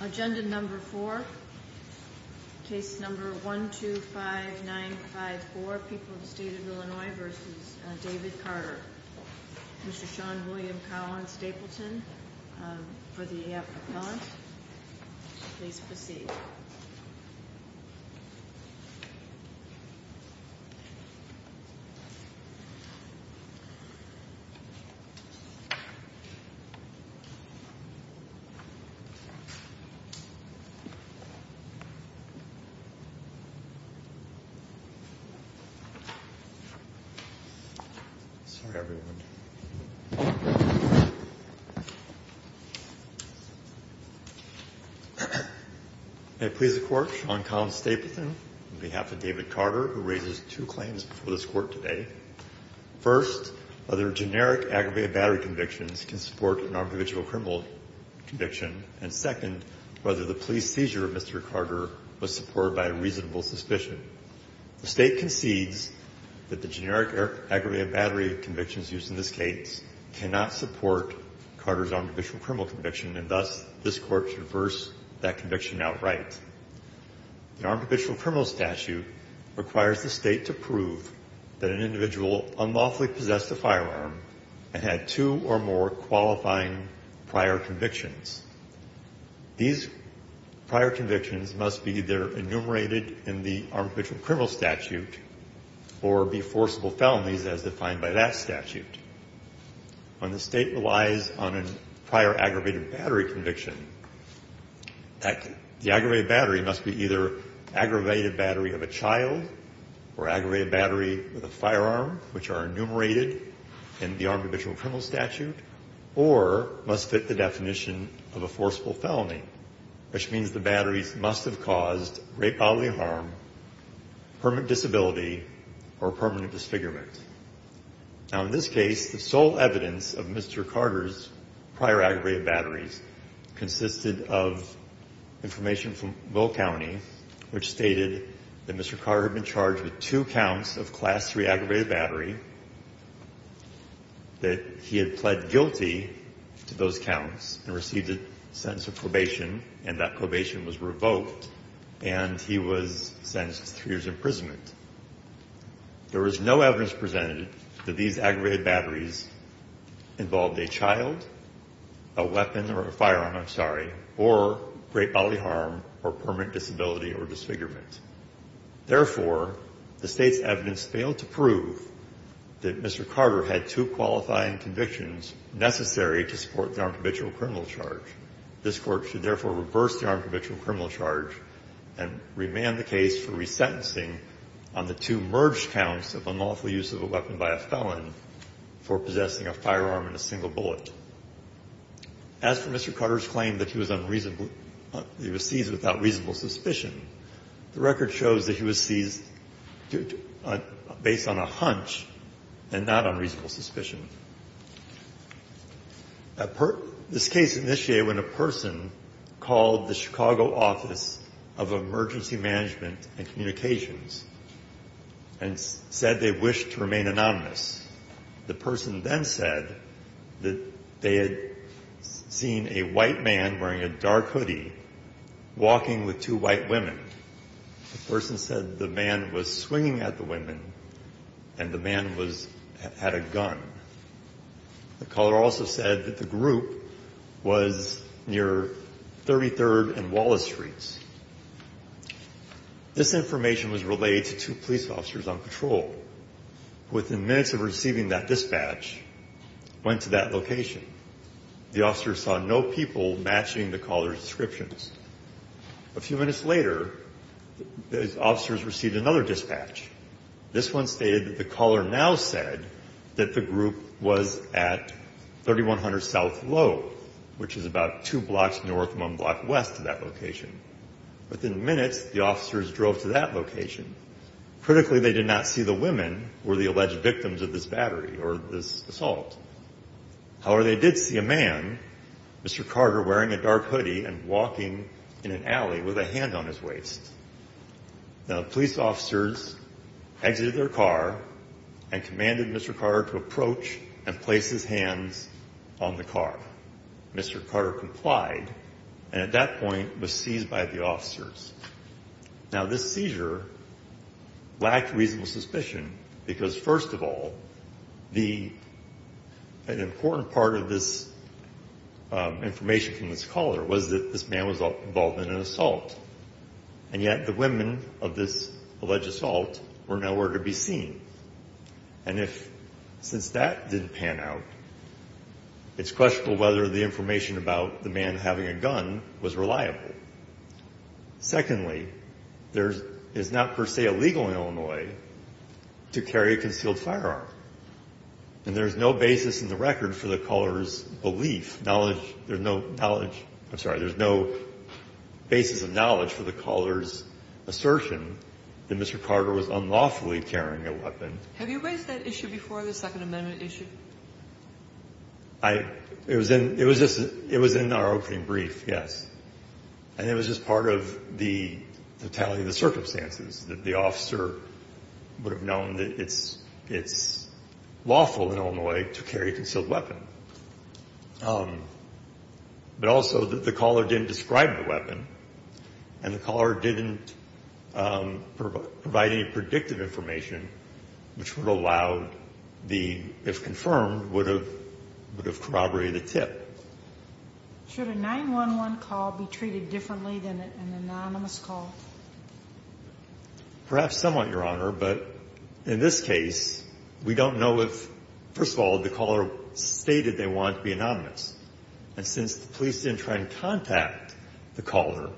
Agenda number 4, case number 125954, People of the State of Illinois v. David Carter Mr. Sean William Collins-Dapleton for the appellant. Please proceed. Sean William Collins-Dapleton May it please the Court, Sean Collins-Dapleton on behalf of David Carter, who raises two claims before this Court today. First, other generic aggravated battery convictions can support an armed individual criminal conviction. And second, whether the police seizure of Mr. Carter was supported by a reasonable suspicion. The State concedes that the generic aggravated battery convictions used in this case cannot support Carter's armed individual criminal conviction, and thus this Court should reverse that conviction outright. The armed individual criminal statute requires the State to prove that an individual unlawfully possessed a firearm and had two or more qualifying prior convictions. These prior convictions must be either enumerated in the armed individual criminal statute or be forcible felonies as defined by that statute. When the State relies on a prior aggravated battery conviction, the aggravated battery must be either aggravated battery of a child or aggravated battery with a firearm, which are enumerated in the armed individual criminal statute, or must fit the definition of a forcible felony, which means the batteries must have caused great bodily harm, permanent disability, or permanent disfigurement. Now, in this case, the sole evidence of Mr. Carter's prior aggravated batteries consisted of information from Will County, which stated that Mr. Carter had been charged with two counts of Class III aggravated battery, that he had pled guilty to those counts and received a sentence of probation, and that probation was revoked, and he was sentenced to three years' imprisonment. There was no evidence presented that these aggravated or great bodily harm or permanent disability or disfigurement. Therefore, the State's evidence failed to prove that Mr. Carter had two qualifying convictions necessary to support the armed individual criminal charge. This Court should therefore reverse the armed individual criminal charge and remand the case for resentencing on the two merged counts of unlawful use of a weapon by a felon for possessing a firearm and a single bullet. As for Mr. Carter's claim that he was unreasonably he was seized without reasonable suspicion, the record shows that he was seized based on a hunch and not on reasonable suspicion. This case initiated when a person called the Chicago Office of Emergency Management and Communications and said they wished to remain anonymous. The person then said that they had seen a white man wearing a dark hoodie walking with two white women. The person said the man was swinging at the women and the man was – had a gun. The caller also said that the group was near 33rd and Wallace Streets. This information was relayed to two police officers on patrol. Within minutes of receiving that dispatch, went to that location. The officers saw no people matching the caller's descriptions. A few minutes later, the officers received another dispatch. This one stated that the caller now said that the group was at 3100 South Low, which is about two blocks north, one block west of that location. Within minutes, the officers drove to that location. Critically, they did not see the women who were the alleged victims of this battery or this assault. However, they did see a man, Mr. Carter, wearing a dark hoodie and walking in an alley with a hand on his waist. The police officers exited their car and commanded Mr. Carter to approach and place his hands on the car. Mr. Carter complied and at that point was seized by the officers. Now, this seizure lacked reasonable suspicion because, first of all, the – an important part of this information from this caller was that this man was involved in an assault. And yet, the women of this alleged assault were nowhere to be seen. And if – since that didn't pan out, it's questionable whether the information about the man having a gun was reliable. Secondly, there's – it's not per se illegal in Illinois to carry a concealed firearm. And there's no basis in the record for the caller's belief, knowledge – there's no knowledge – I'm sorry, there's no basis of knowledge for the caller's assertion that Mr. Carter was unlawfully carrying a weapon. Have you raised that issue before, the Second Amendment issue? I – it was in – it was just – it was in our opening brief, yes. And it was just part of the totality of the circumstances that the officer would have known that it's lawful in Illinois to carry a concealed weapon. But also, the caller didn't describe a weapon, and the caller didn't provide any predictive information which would allow the – if confirmed, would have corroborated a tip. Should a 911 call be treated differently than an anonymous call? Perhaps somewhat, Your Honor, but in this case, we don't know if – first of all, the caller stated they wanted to be anonymous. And since the police didn't try to contact the caller,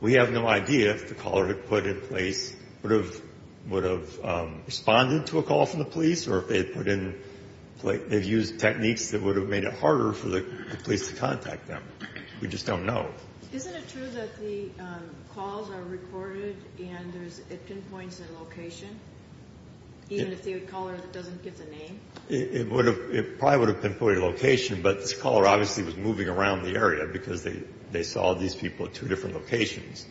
we have no idea if the caller had put in place – would have responded to a call from the police, or if they had put in – they've used techniques that would have made it harder for the police to contact them. We just don't know. Isn't it true that the calls are recorded and there's – it pinpoints a location, even if the caller doesn't give the name? It would have – it probably would have pinpointed a location, but this caller obviously was moving around the area because they saw these people at two different locations.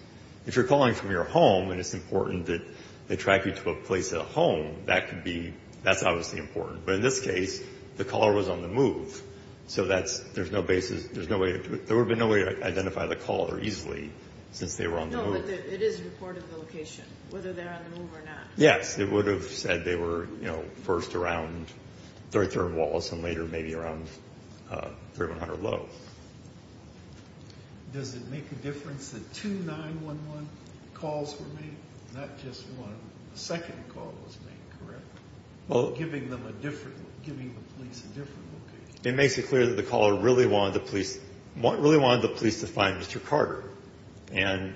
If you're calling from your home and it's important that they track you to a place at home, that could be – that's obviously important. But in this case, the caller was on the move. So that's – there's no basis – there's no way to – there would have been no way to identify the caller easily since they were on the move. No, but it is a report of the location, whether they're on the move or not. Yes, it would have said they were, you know, first around 33rd and Wallace and later maybe around 3100 Lowe. Does it make a difference that two 911 calls were made, not just one? A second call was made, correct? Well – Giving them a different – giving the police a different location. It makes it clear that the caller really wanted the police – really wanted the police to find Mr. Carter. And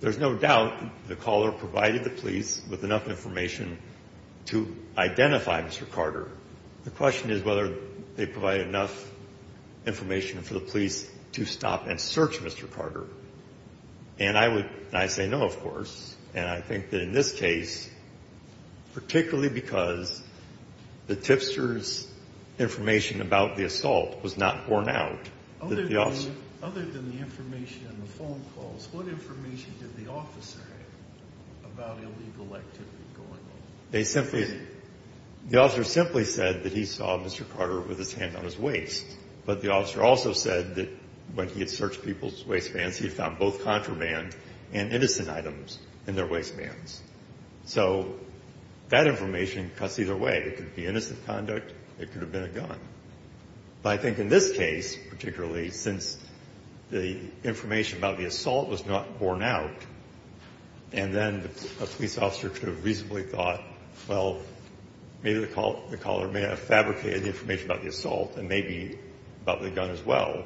there's no doubt the caller provided the police with enough information to identify Mr. Carter. The question is whether they provided enough information for the police to stop and search Mr. Carter. And I would – and I say no, of course. And I think that in this case, particularly because the tipster's information about the assault was not borne out. Other than the information in the phone calls, what information did the officer have about illegal activity going on? They simply – the officer simply said that he saw Mr. Carter with his hand on his waist. But the officer also said that when he had searched people's waistbands, he had found both contraband and innocent items in their waistbands. So that information cuts either way. It could be innocent conduct. It could have been a gun. But I think in this case, particularly since the information about the assault was not borne out, and then a police officer could have reasonably thought, well, maybe the caller may have fabricated the information about the assault and maybe about the gun as well,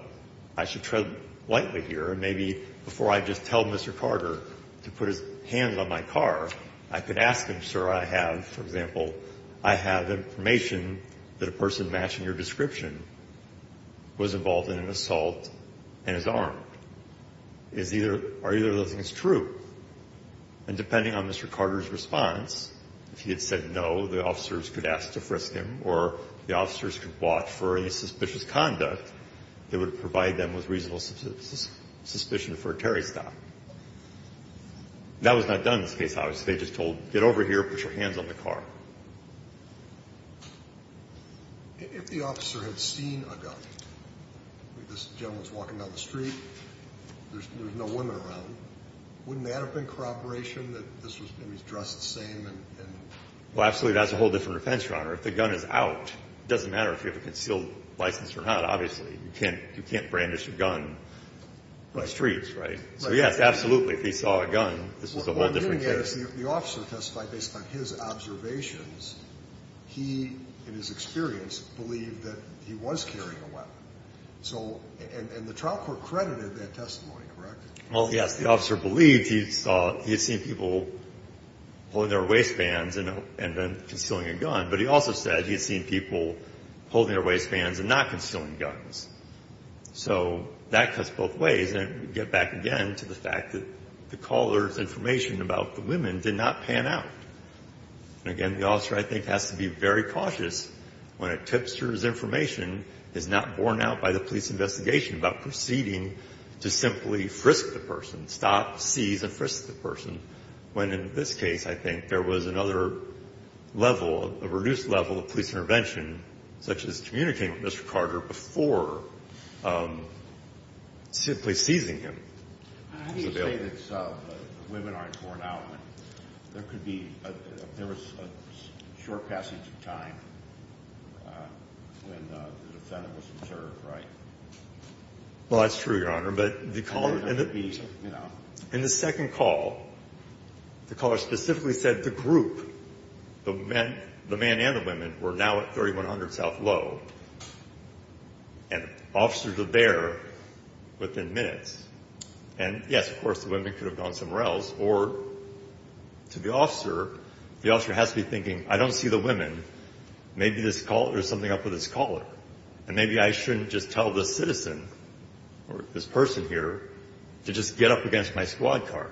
I should tread lightly here. And maybe before I just tell Mr. Carter to put his hands on my car, I could ask him, sir, I have – for example, I have information that a person matching your description was involved in an assault and is armed. Is either – or either of those things true. And depending on Mr. Carter's response, if he had said no, the officers could ask to frisk him or the officers could watch for any suspicious conduct that would provide them with reasonable suspicion for a terrorist act. That was not done in this case, obviously. They just told, get over here, put your hands on the car. If the officer had seen a gun, this gentleman's walking down the street, there's no women around, wouldn't that have been corroboration that this was – and he's dressed the same and – Well, absolutely. That's a whole different defense, Your Honor. If the gun is out, it doesn't matter if you have a concealed license or not, obviously. You can't brandish your gun on the streets, right? So, yes, absolutely. If he saw a gun, this was a whole different case. Yes, the officer testified based on his observations. He, in his experience, believed that he was carrying a weapon. So – and the trial court credited that testimony, correct? Well, yes, the officer believed he saw – he had seen people holding their waistbands and then concealing a gun, but he also said he had seen people holding their waistbands and not concealing guns. So that cuts both ways. And we get back again to the fact that the caller's information about the women did not pan out. And again, the officer, I think, has to be very cautious when a tipster's information is not borne out by the police investigation about proceeding to simply frisk the person, stop, seize, and frisk the person, when in this case, I think, there was another level, a reduced level of police intervention, such as communicating with Mr. Carter before simply seizing him. How do you say that the women aren't borne out when there could be a – there was a short passage of time when the defendant was observed, right? Well, that's true, Your Honor. But the caller – and the second call, the caller specifically said the group, the men and the women, were now at 3100 South Low. And officers were there within minutes. And, yes, of course, the women could have gone somewhere else. Or to the officer, the officer has to be thinking, I don't see the women. Maybe there's something up with this caller. And maybe I shouldn't just tell this citizen or this person here to just get up against my squad car.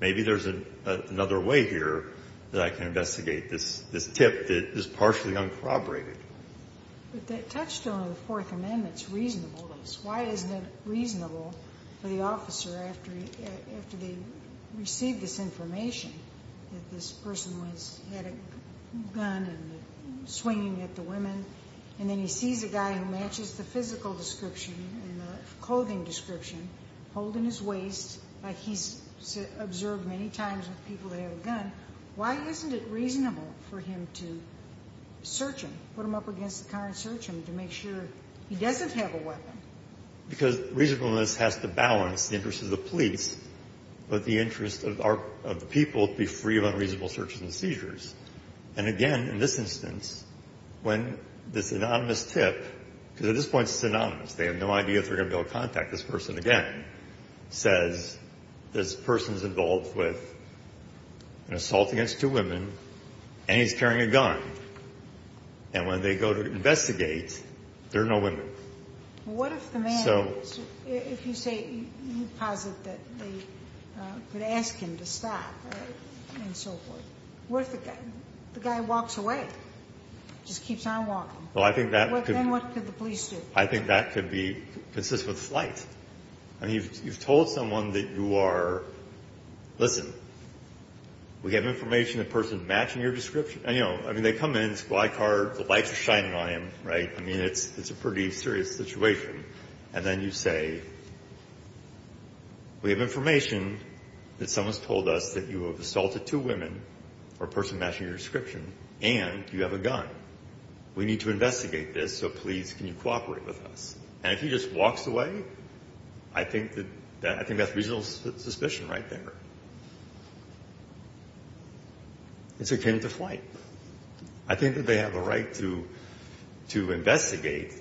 Maybe there's another way here that I can investigate this tip that is partially uncorroborated. But that touched on the Fourth Amendment's reasonableness. Why isn't it reasonable for the officer, after he – after they received this information, that this person was – had a gun and was swinging at the women, and then he sees a guy who matches the physical description and the clothing description, holding his waist like he's observed many times with people that have a gun, why isn't it reasonable for him to search him, put him up against the car and search him to make sure he doesn't have a weapon? Because reasonableness has to balance the interests of the police with the interests of our – of the people to be free of unreasonable searches and seizures. And, again, in this instance, when this anonymous tip – because at this point this is anonymous, they have no idea if they're going to be able to contact this person again – says this person's involved with an assault against two women and he's carrying a gun. And when they go to investigate, there are no women. So – What if the man – if you say – you posit that they could ask him to stop, right, and so forth. What if the guy walks away, just keeps on walking? Well, I think that could – I think that could be consistent with flight. I mean, you've told someone that you are – listen, we have information the person matching your description – I mean, they come in, it's a black car, the lights are shining on him, right, I mean, it's a pretty serious situation. And then you say, we have information that someone's told us that you have assaulted two women or a person matching your description and you have a gun. We need to investigate this, so please, can you cooperate with us? And if he just walks away, I think that's reasonable suspicion right there. It's akin to flight. I think that they have a right to investigate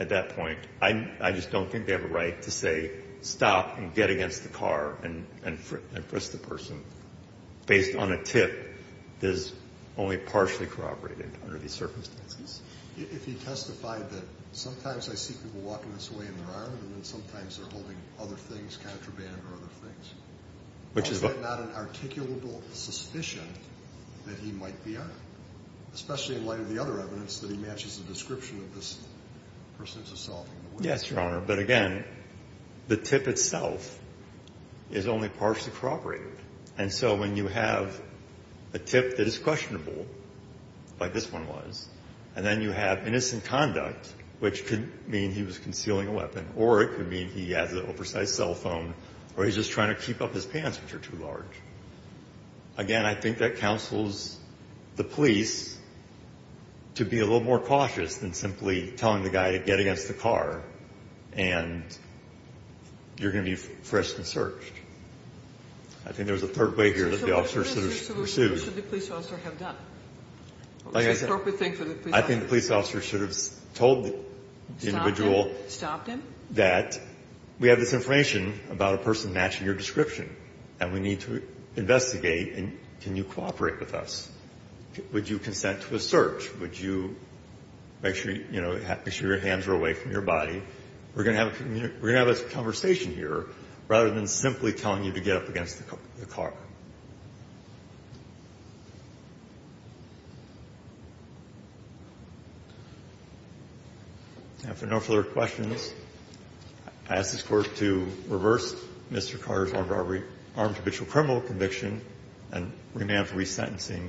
at that point. I just don't think they have a right to say stop and get against the car and is only partially corroborated under these circumstances. If he testified that sometimes I see people walking this way in their arm and then sometimes they're holding other things, contraband or other things, is that not an articulable suspicion that he might be on it, especially in light of the other evidence that he matches the description of this person who's assaulting the woman? Yes, Your Honor, but again, the tip itself is only partially corroborated. And so when you have a tip that is questionable, like this one was, and then you have innocent conduct, which could mean he was concealing a weapon, or it could mean he has an oversized cell phone, or he's just trying to keep up his pants, which are too large. Again, I think that counsels the police to be a little more cautious than simply telling the guy to get against the car and you're going to be frisked and searched. I think there's a third way here that the officer should have pursued. So what is the solution the police officer should have done? Like I said, I think the police officer should have told the individual that we have this information about a person matching your description and we need to investigate and can you cooperate with us. Would you consent to a search? Would you make sure, you know, make sure your hands are away from your body? We're going to have a conversation here rather than simply telling you to get up against the car. And if there are no further questions, I ask this Court to reverse Mr. Carter's armed robbery, armed habitual criminal conviction and remand for resentencing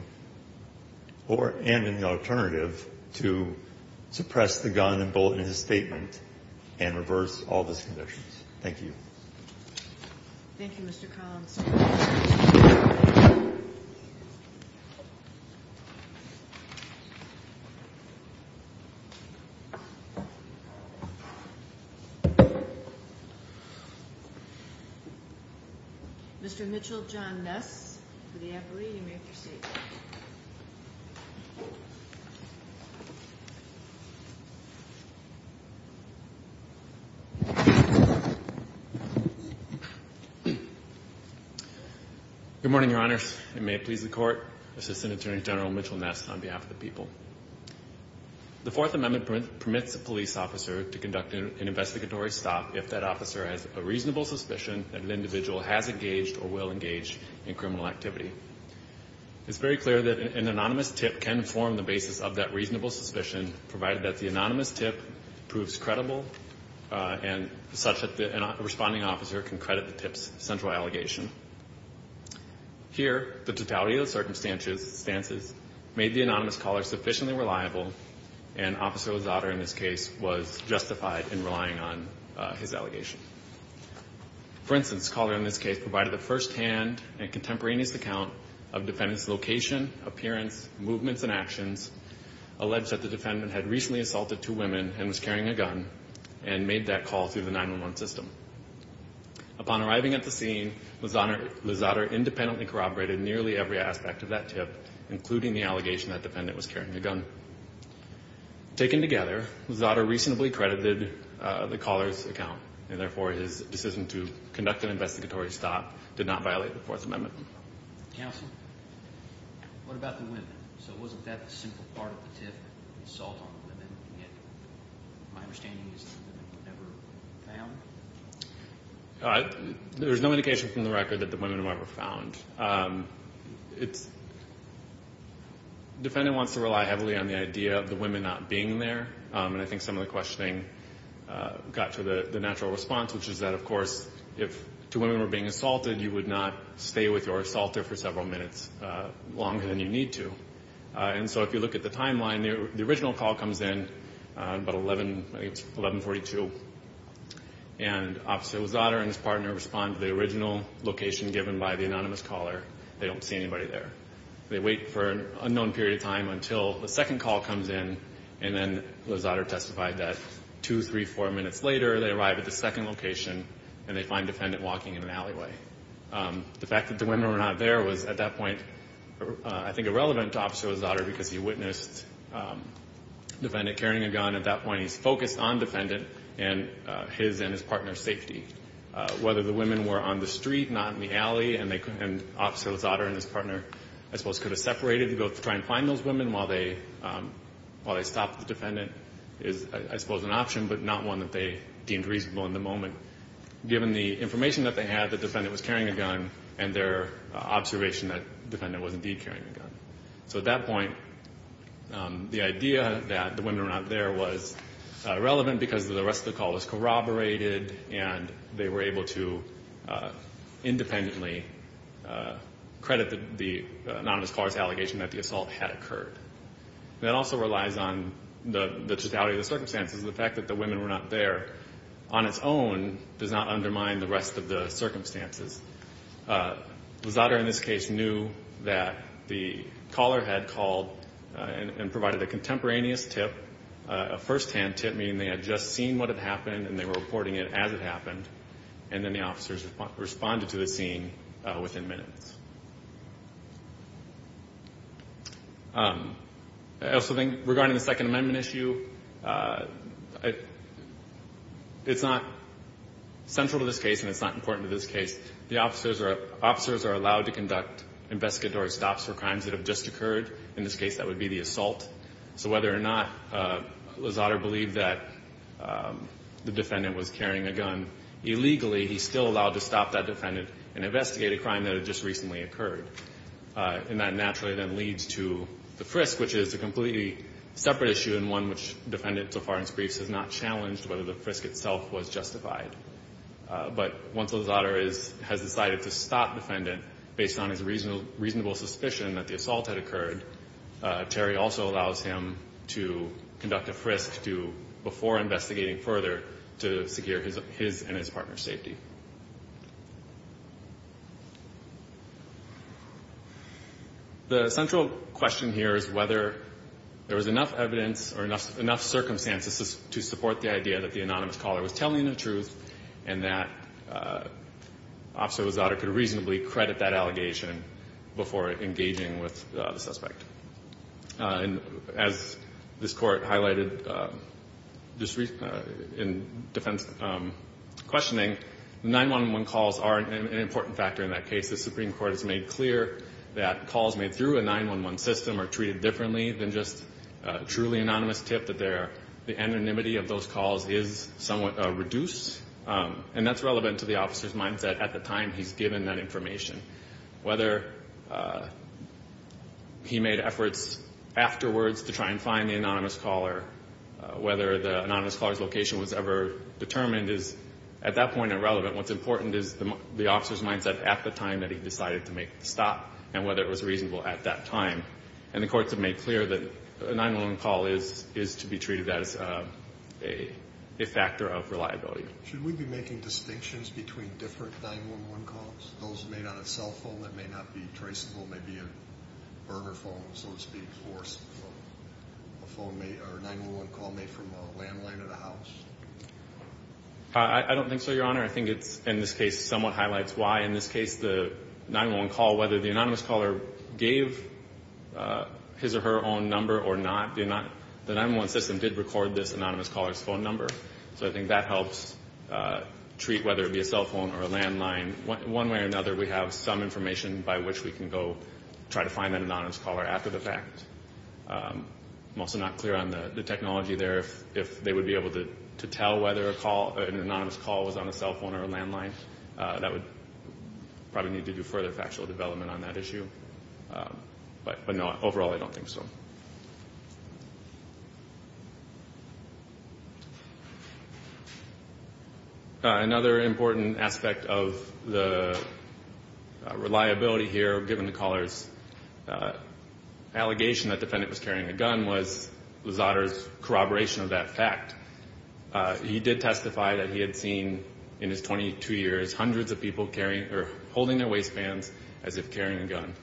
or, and in the alternative, to suppress the gun and bullet in his statement and reverse all those conditions. Thank you. Thank you, Mr. Collins. Mr. Mitchell, John Ness for the appellee. You may proceed. Good morning, Your Honors. It may please the Court. Assistant Attorney General Mitchell Ness on behalf of the people. The Fourth Amendment permits a police officer to conduct an investigatory stop if that officer has a reasonable suspicion that an individual has engaged or will engage in criminal activity. It's very clear that an anonymous tip can form the basis of that reasonable suspicion provided that the anonymous tip proves credible and such that the responding officer can credit the tip's central allegation. Here, the totality of the circumstances made the anonymous caller sufficiently reliable and Officer Lozada in this case was justified in relying on his allegation. For instance, the caller in this case provided a firsthand and contemporaneous account of the defendant's location, appearance, movements and actions, alleged that the defendant had recently assaulted two women and was carrying a gun and made that call through the 911 system. Upon arriving at the scene, Lozada independently corroborated nearly every aspect of that tip, including the allegation that the defendant was carrying a gun. Taken together, Lozada reasonably credited the caller's account, and therefore his decision to conduct an investigatory stop did not violate the Fourth Amendment. Counsel, what about the women? So wasn't that a simple part of the tip, an assault on the women, yet my understanding is that the women were never found? There's no indication from the record that the women were ever found. The defendant wants to rely heavily on the idea of the women not being there, and I think some of the questioning got to the natural response, which is that, of course, if two women were being assaulted, you would not stay with your assaulter for several minutes longer than you need to. And so if you look at the timeline, the original call comes in about 11, I think it was 1142, and obviously Lozada and his partner respond to the original location given by the anonymous caller. They don't see anybody there. They wait for an unknown period of time until the second call comes in, and then Lozada testified that two, three, four minutes later they arrive at the second location and they find the defendant walking in an alleyway. The fact that the women were not there was, at that point, I think irrelevant to Officer Lozada because he witnessed the defendant carrying a gun. At that point he's focused on the defendant and his and his partner's safety. Whether the women were on the street, not in the alley, and Officer Lozada and his partner, I suppose, could have separated to go try and find those women while they stopped the defendant is, I suppose, an option but not one that they deemed reasonable in the moment. Given the information that they had, the defendant was carrying a gun and their observation that the defendant was indeed carrying a gun. So at that point the idea that the women were not there was relevant because the rest of the call was corroborated and they were able to independently credit the anonymous caller's allegation that the assault had occurred. That also relies on the totality of the circumstances. The fact that the women were not there on its own does not undermine the rest of the circumstances. Lozada, in this case, knew that the caller had called and provided a contemporaneous tip, a firsthand tip meaning they had just seen what had happened and they were reporting it as it happened, and then the officers responded to the scene within minutes. I also think regarding the Second Amendment issue, it's not central to this case and it's not important to this case. The officers are allowed to conduct investigatory stops for crimes that have just occurred. In this case, that would be the assault. So whether or not Lozada believed that the defendant was carrying a gun illegally, he's still allowed to stop that defendant and investigate a crime that had just recently occurred. And that naturally then leads to the frisk, which is a completely separate issue and one which Defendant Sofarin's briefs has not challenged whether the frisk itself was justified. But once Lozada has decided to stop the defendant based on his reasonable suspicion that the assault had occurred, Terry also allows him to conduct a frisk before investigating further to secure his and his partner's safety. The central question here is whether there was enough evidence or enough circumstances to support the idea that the anonymous caller was telling the truth and that Officer Lozada could reasonably credit that allegation before engaging with the suspect. And as this Court highlighted in defense questioning, 9-1-1 calls are an important factor in that case. The Supreme Court has made clear that calls made through a 9-1-1 system are treated differently than just a truly anonymous tip, that the anonymity of those calls is somewhat reduced. And that's relevant to the officer's mindset at the time he's given that information. Whether he made efforts afterwards to try and find the anonymous caller, whether the anonymous caller's location was ever determined is, at that point, irrelevant. What's important is the officer's mindset at the time that he decided to make the stop and whether it was reasonable at that time. And the courts have made clear that a 9-1-1 call is to be treated as a factor of reliability. Should we be making distinctions between different 9-1-1 calls? Those made on a cell phone that may not be traceable, maybe a burner phone, so to speak, or a 9-1-1 call made from a landline at a house? I don't think so, Your Honor. I think it, in this case, somewhat highlights why in this case the 9-1-1 call, whether the anonymous caller gave his or her own number or not, the 9-1-1 system did record this anonymous caller's phone number. So I think that helps treat whether it be a cell phone or a landline. One way or another, we have some information by which we can go try to find that anonymous caller after the fact. I'm also not clear on the technology there. If they would be able to tell whether an anonymous call was on a cell phone or a landline, that would probably need to do further factual development on that issue. But, no, overall I don't think so. Thank you. Another important aspect of the reliability here, given the caller's allegation that the defendant was carrying a gun, was Luzzatto's corroboration of that fact. He did testify that he had seen in his 22 years hundreds of people holding their waistbands as if carrying a gun.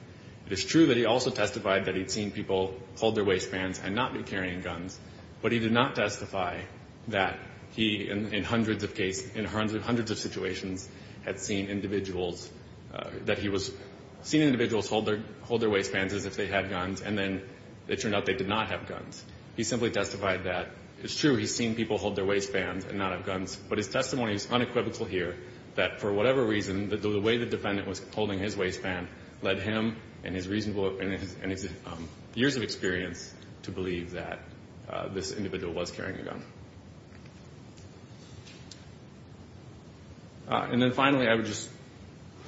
It is true that he also testified that he'd seen people hold their waistbands and not be carrying guns, but he did not testify that he, in hundreds of situations, had seen individuals hold their waistbands as if they had guns and then it turned out they did not have guns. He simply testified that it's true he's seen people hold their waistbands and not have guns, but his testimony is unequivocal here that, for whatever reason, the way the defendant was holding his waistband led him and his years of experience to believe that this individual was carrying a gun. And then, finally, I would just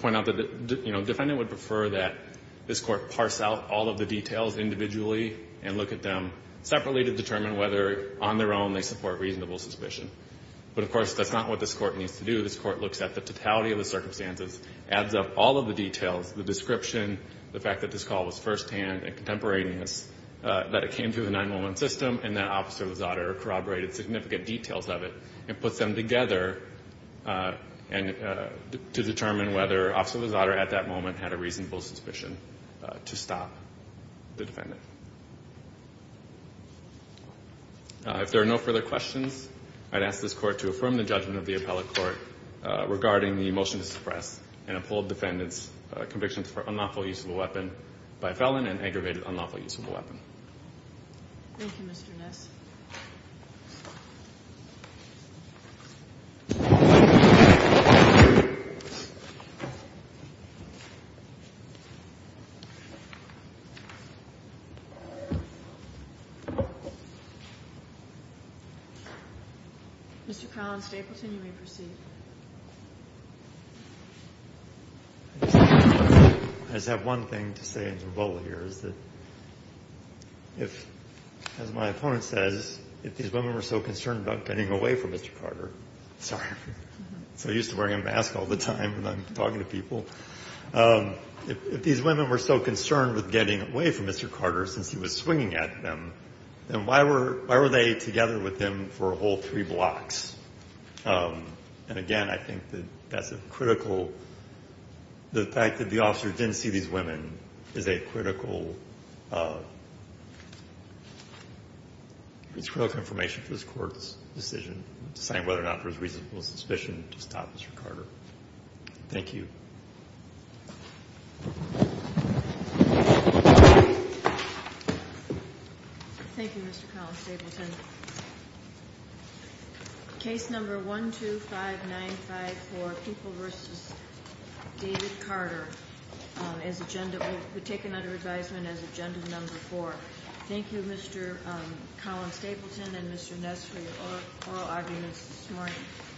point out that the defendant would prefer that this Court parse out all of the details individually and look at them separately to determine whether, on their own, they support reasonable suspicion. But, of course, that's not what this Court needs to do. This Court looks at the totality of the circumstances, adds up all of the details, the description, the fact that this call was firsthand and contemporaneous, that it came through the 911 system and that Officer Luzzatto corroborated significant details of it and puts them together to determine whether Officer Luzzatto, at that moment, had a reasonable suspicion to stop the defendant. If there are no further questions, I'd ask this Court to affirm the judgment of the appellate court regarding the motion to suppress and uphold defendant's conviction for unlawful use of a weapon by a felon and aggravated unlawful use of a weapon. Thank you, Mr. Ness. Mr. Collins-Stapleton, you may proceed. I just have one thing to say as a rebuttal here, is that if, as my opponent says, if these women were so concerned about getting away from Mr. Carter, sorry, I'm so used to wearing a mask all the time when I'm talking to people, if these women were so concerned with getting away from Mr. Carter since he was swinging at them, then why were they together with him for a whole three blocks? And, again, I think that that's a critical, the fact that the officer didn't see these women is a critical, is critical information for this Court's decision deciding whether or not there was reasonable suspicion to stop Mr. Carter. Thank you. Thank you, Mr. Collins-Stapleton. Case number 12595 for People v. David Carter is agenda, will be taken under advisement as agenda number four. Thank you, Mr. Collins-Stapleton and Mr. Ness, for your oral arguments this morning.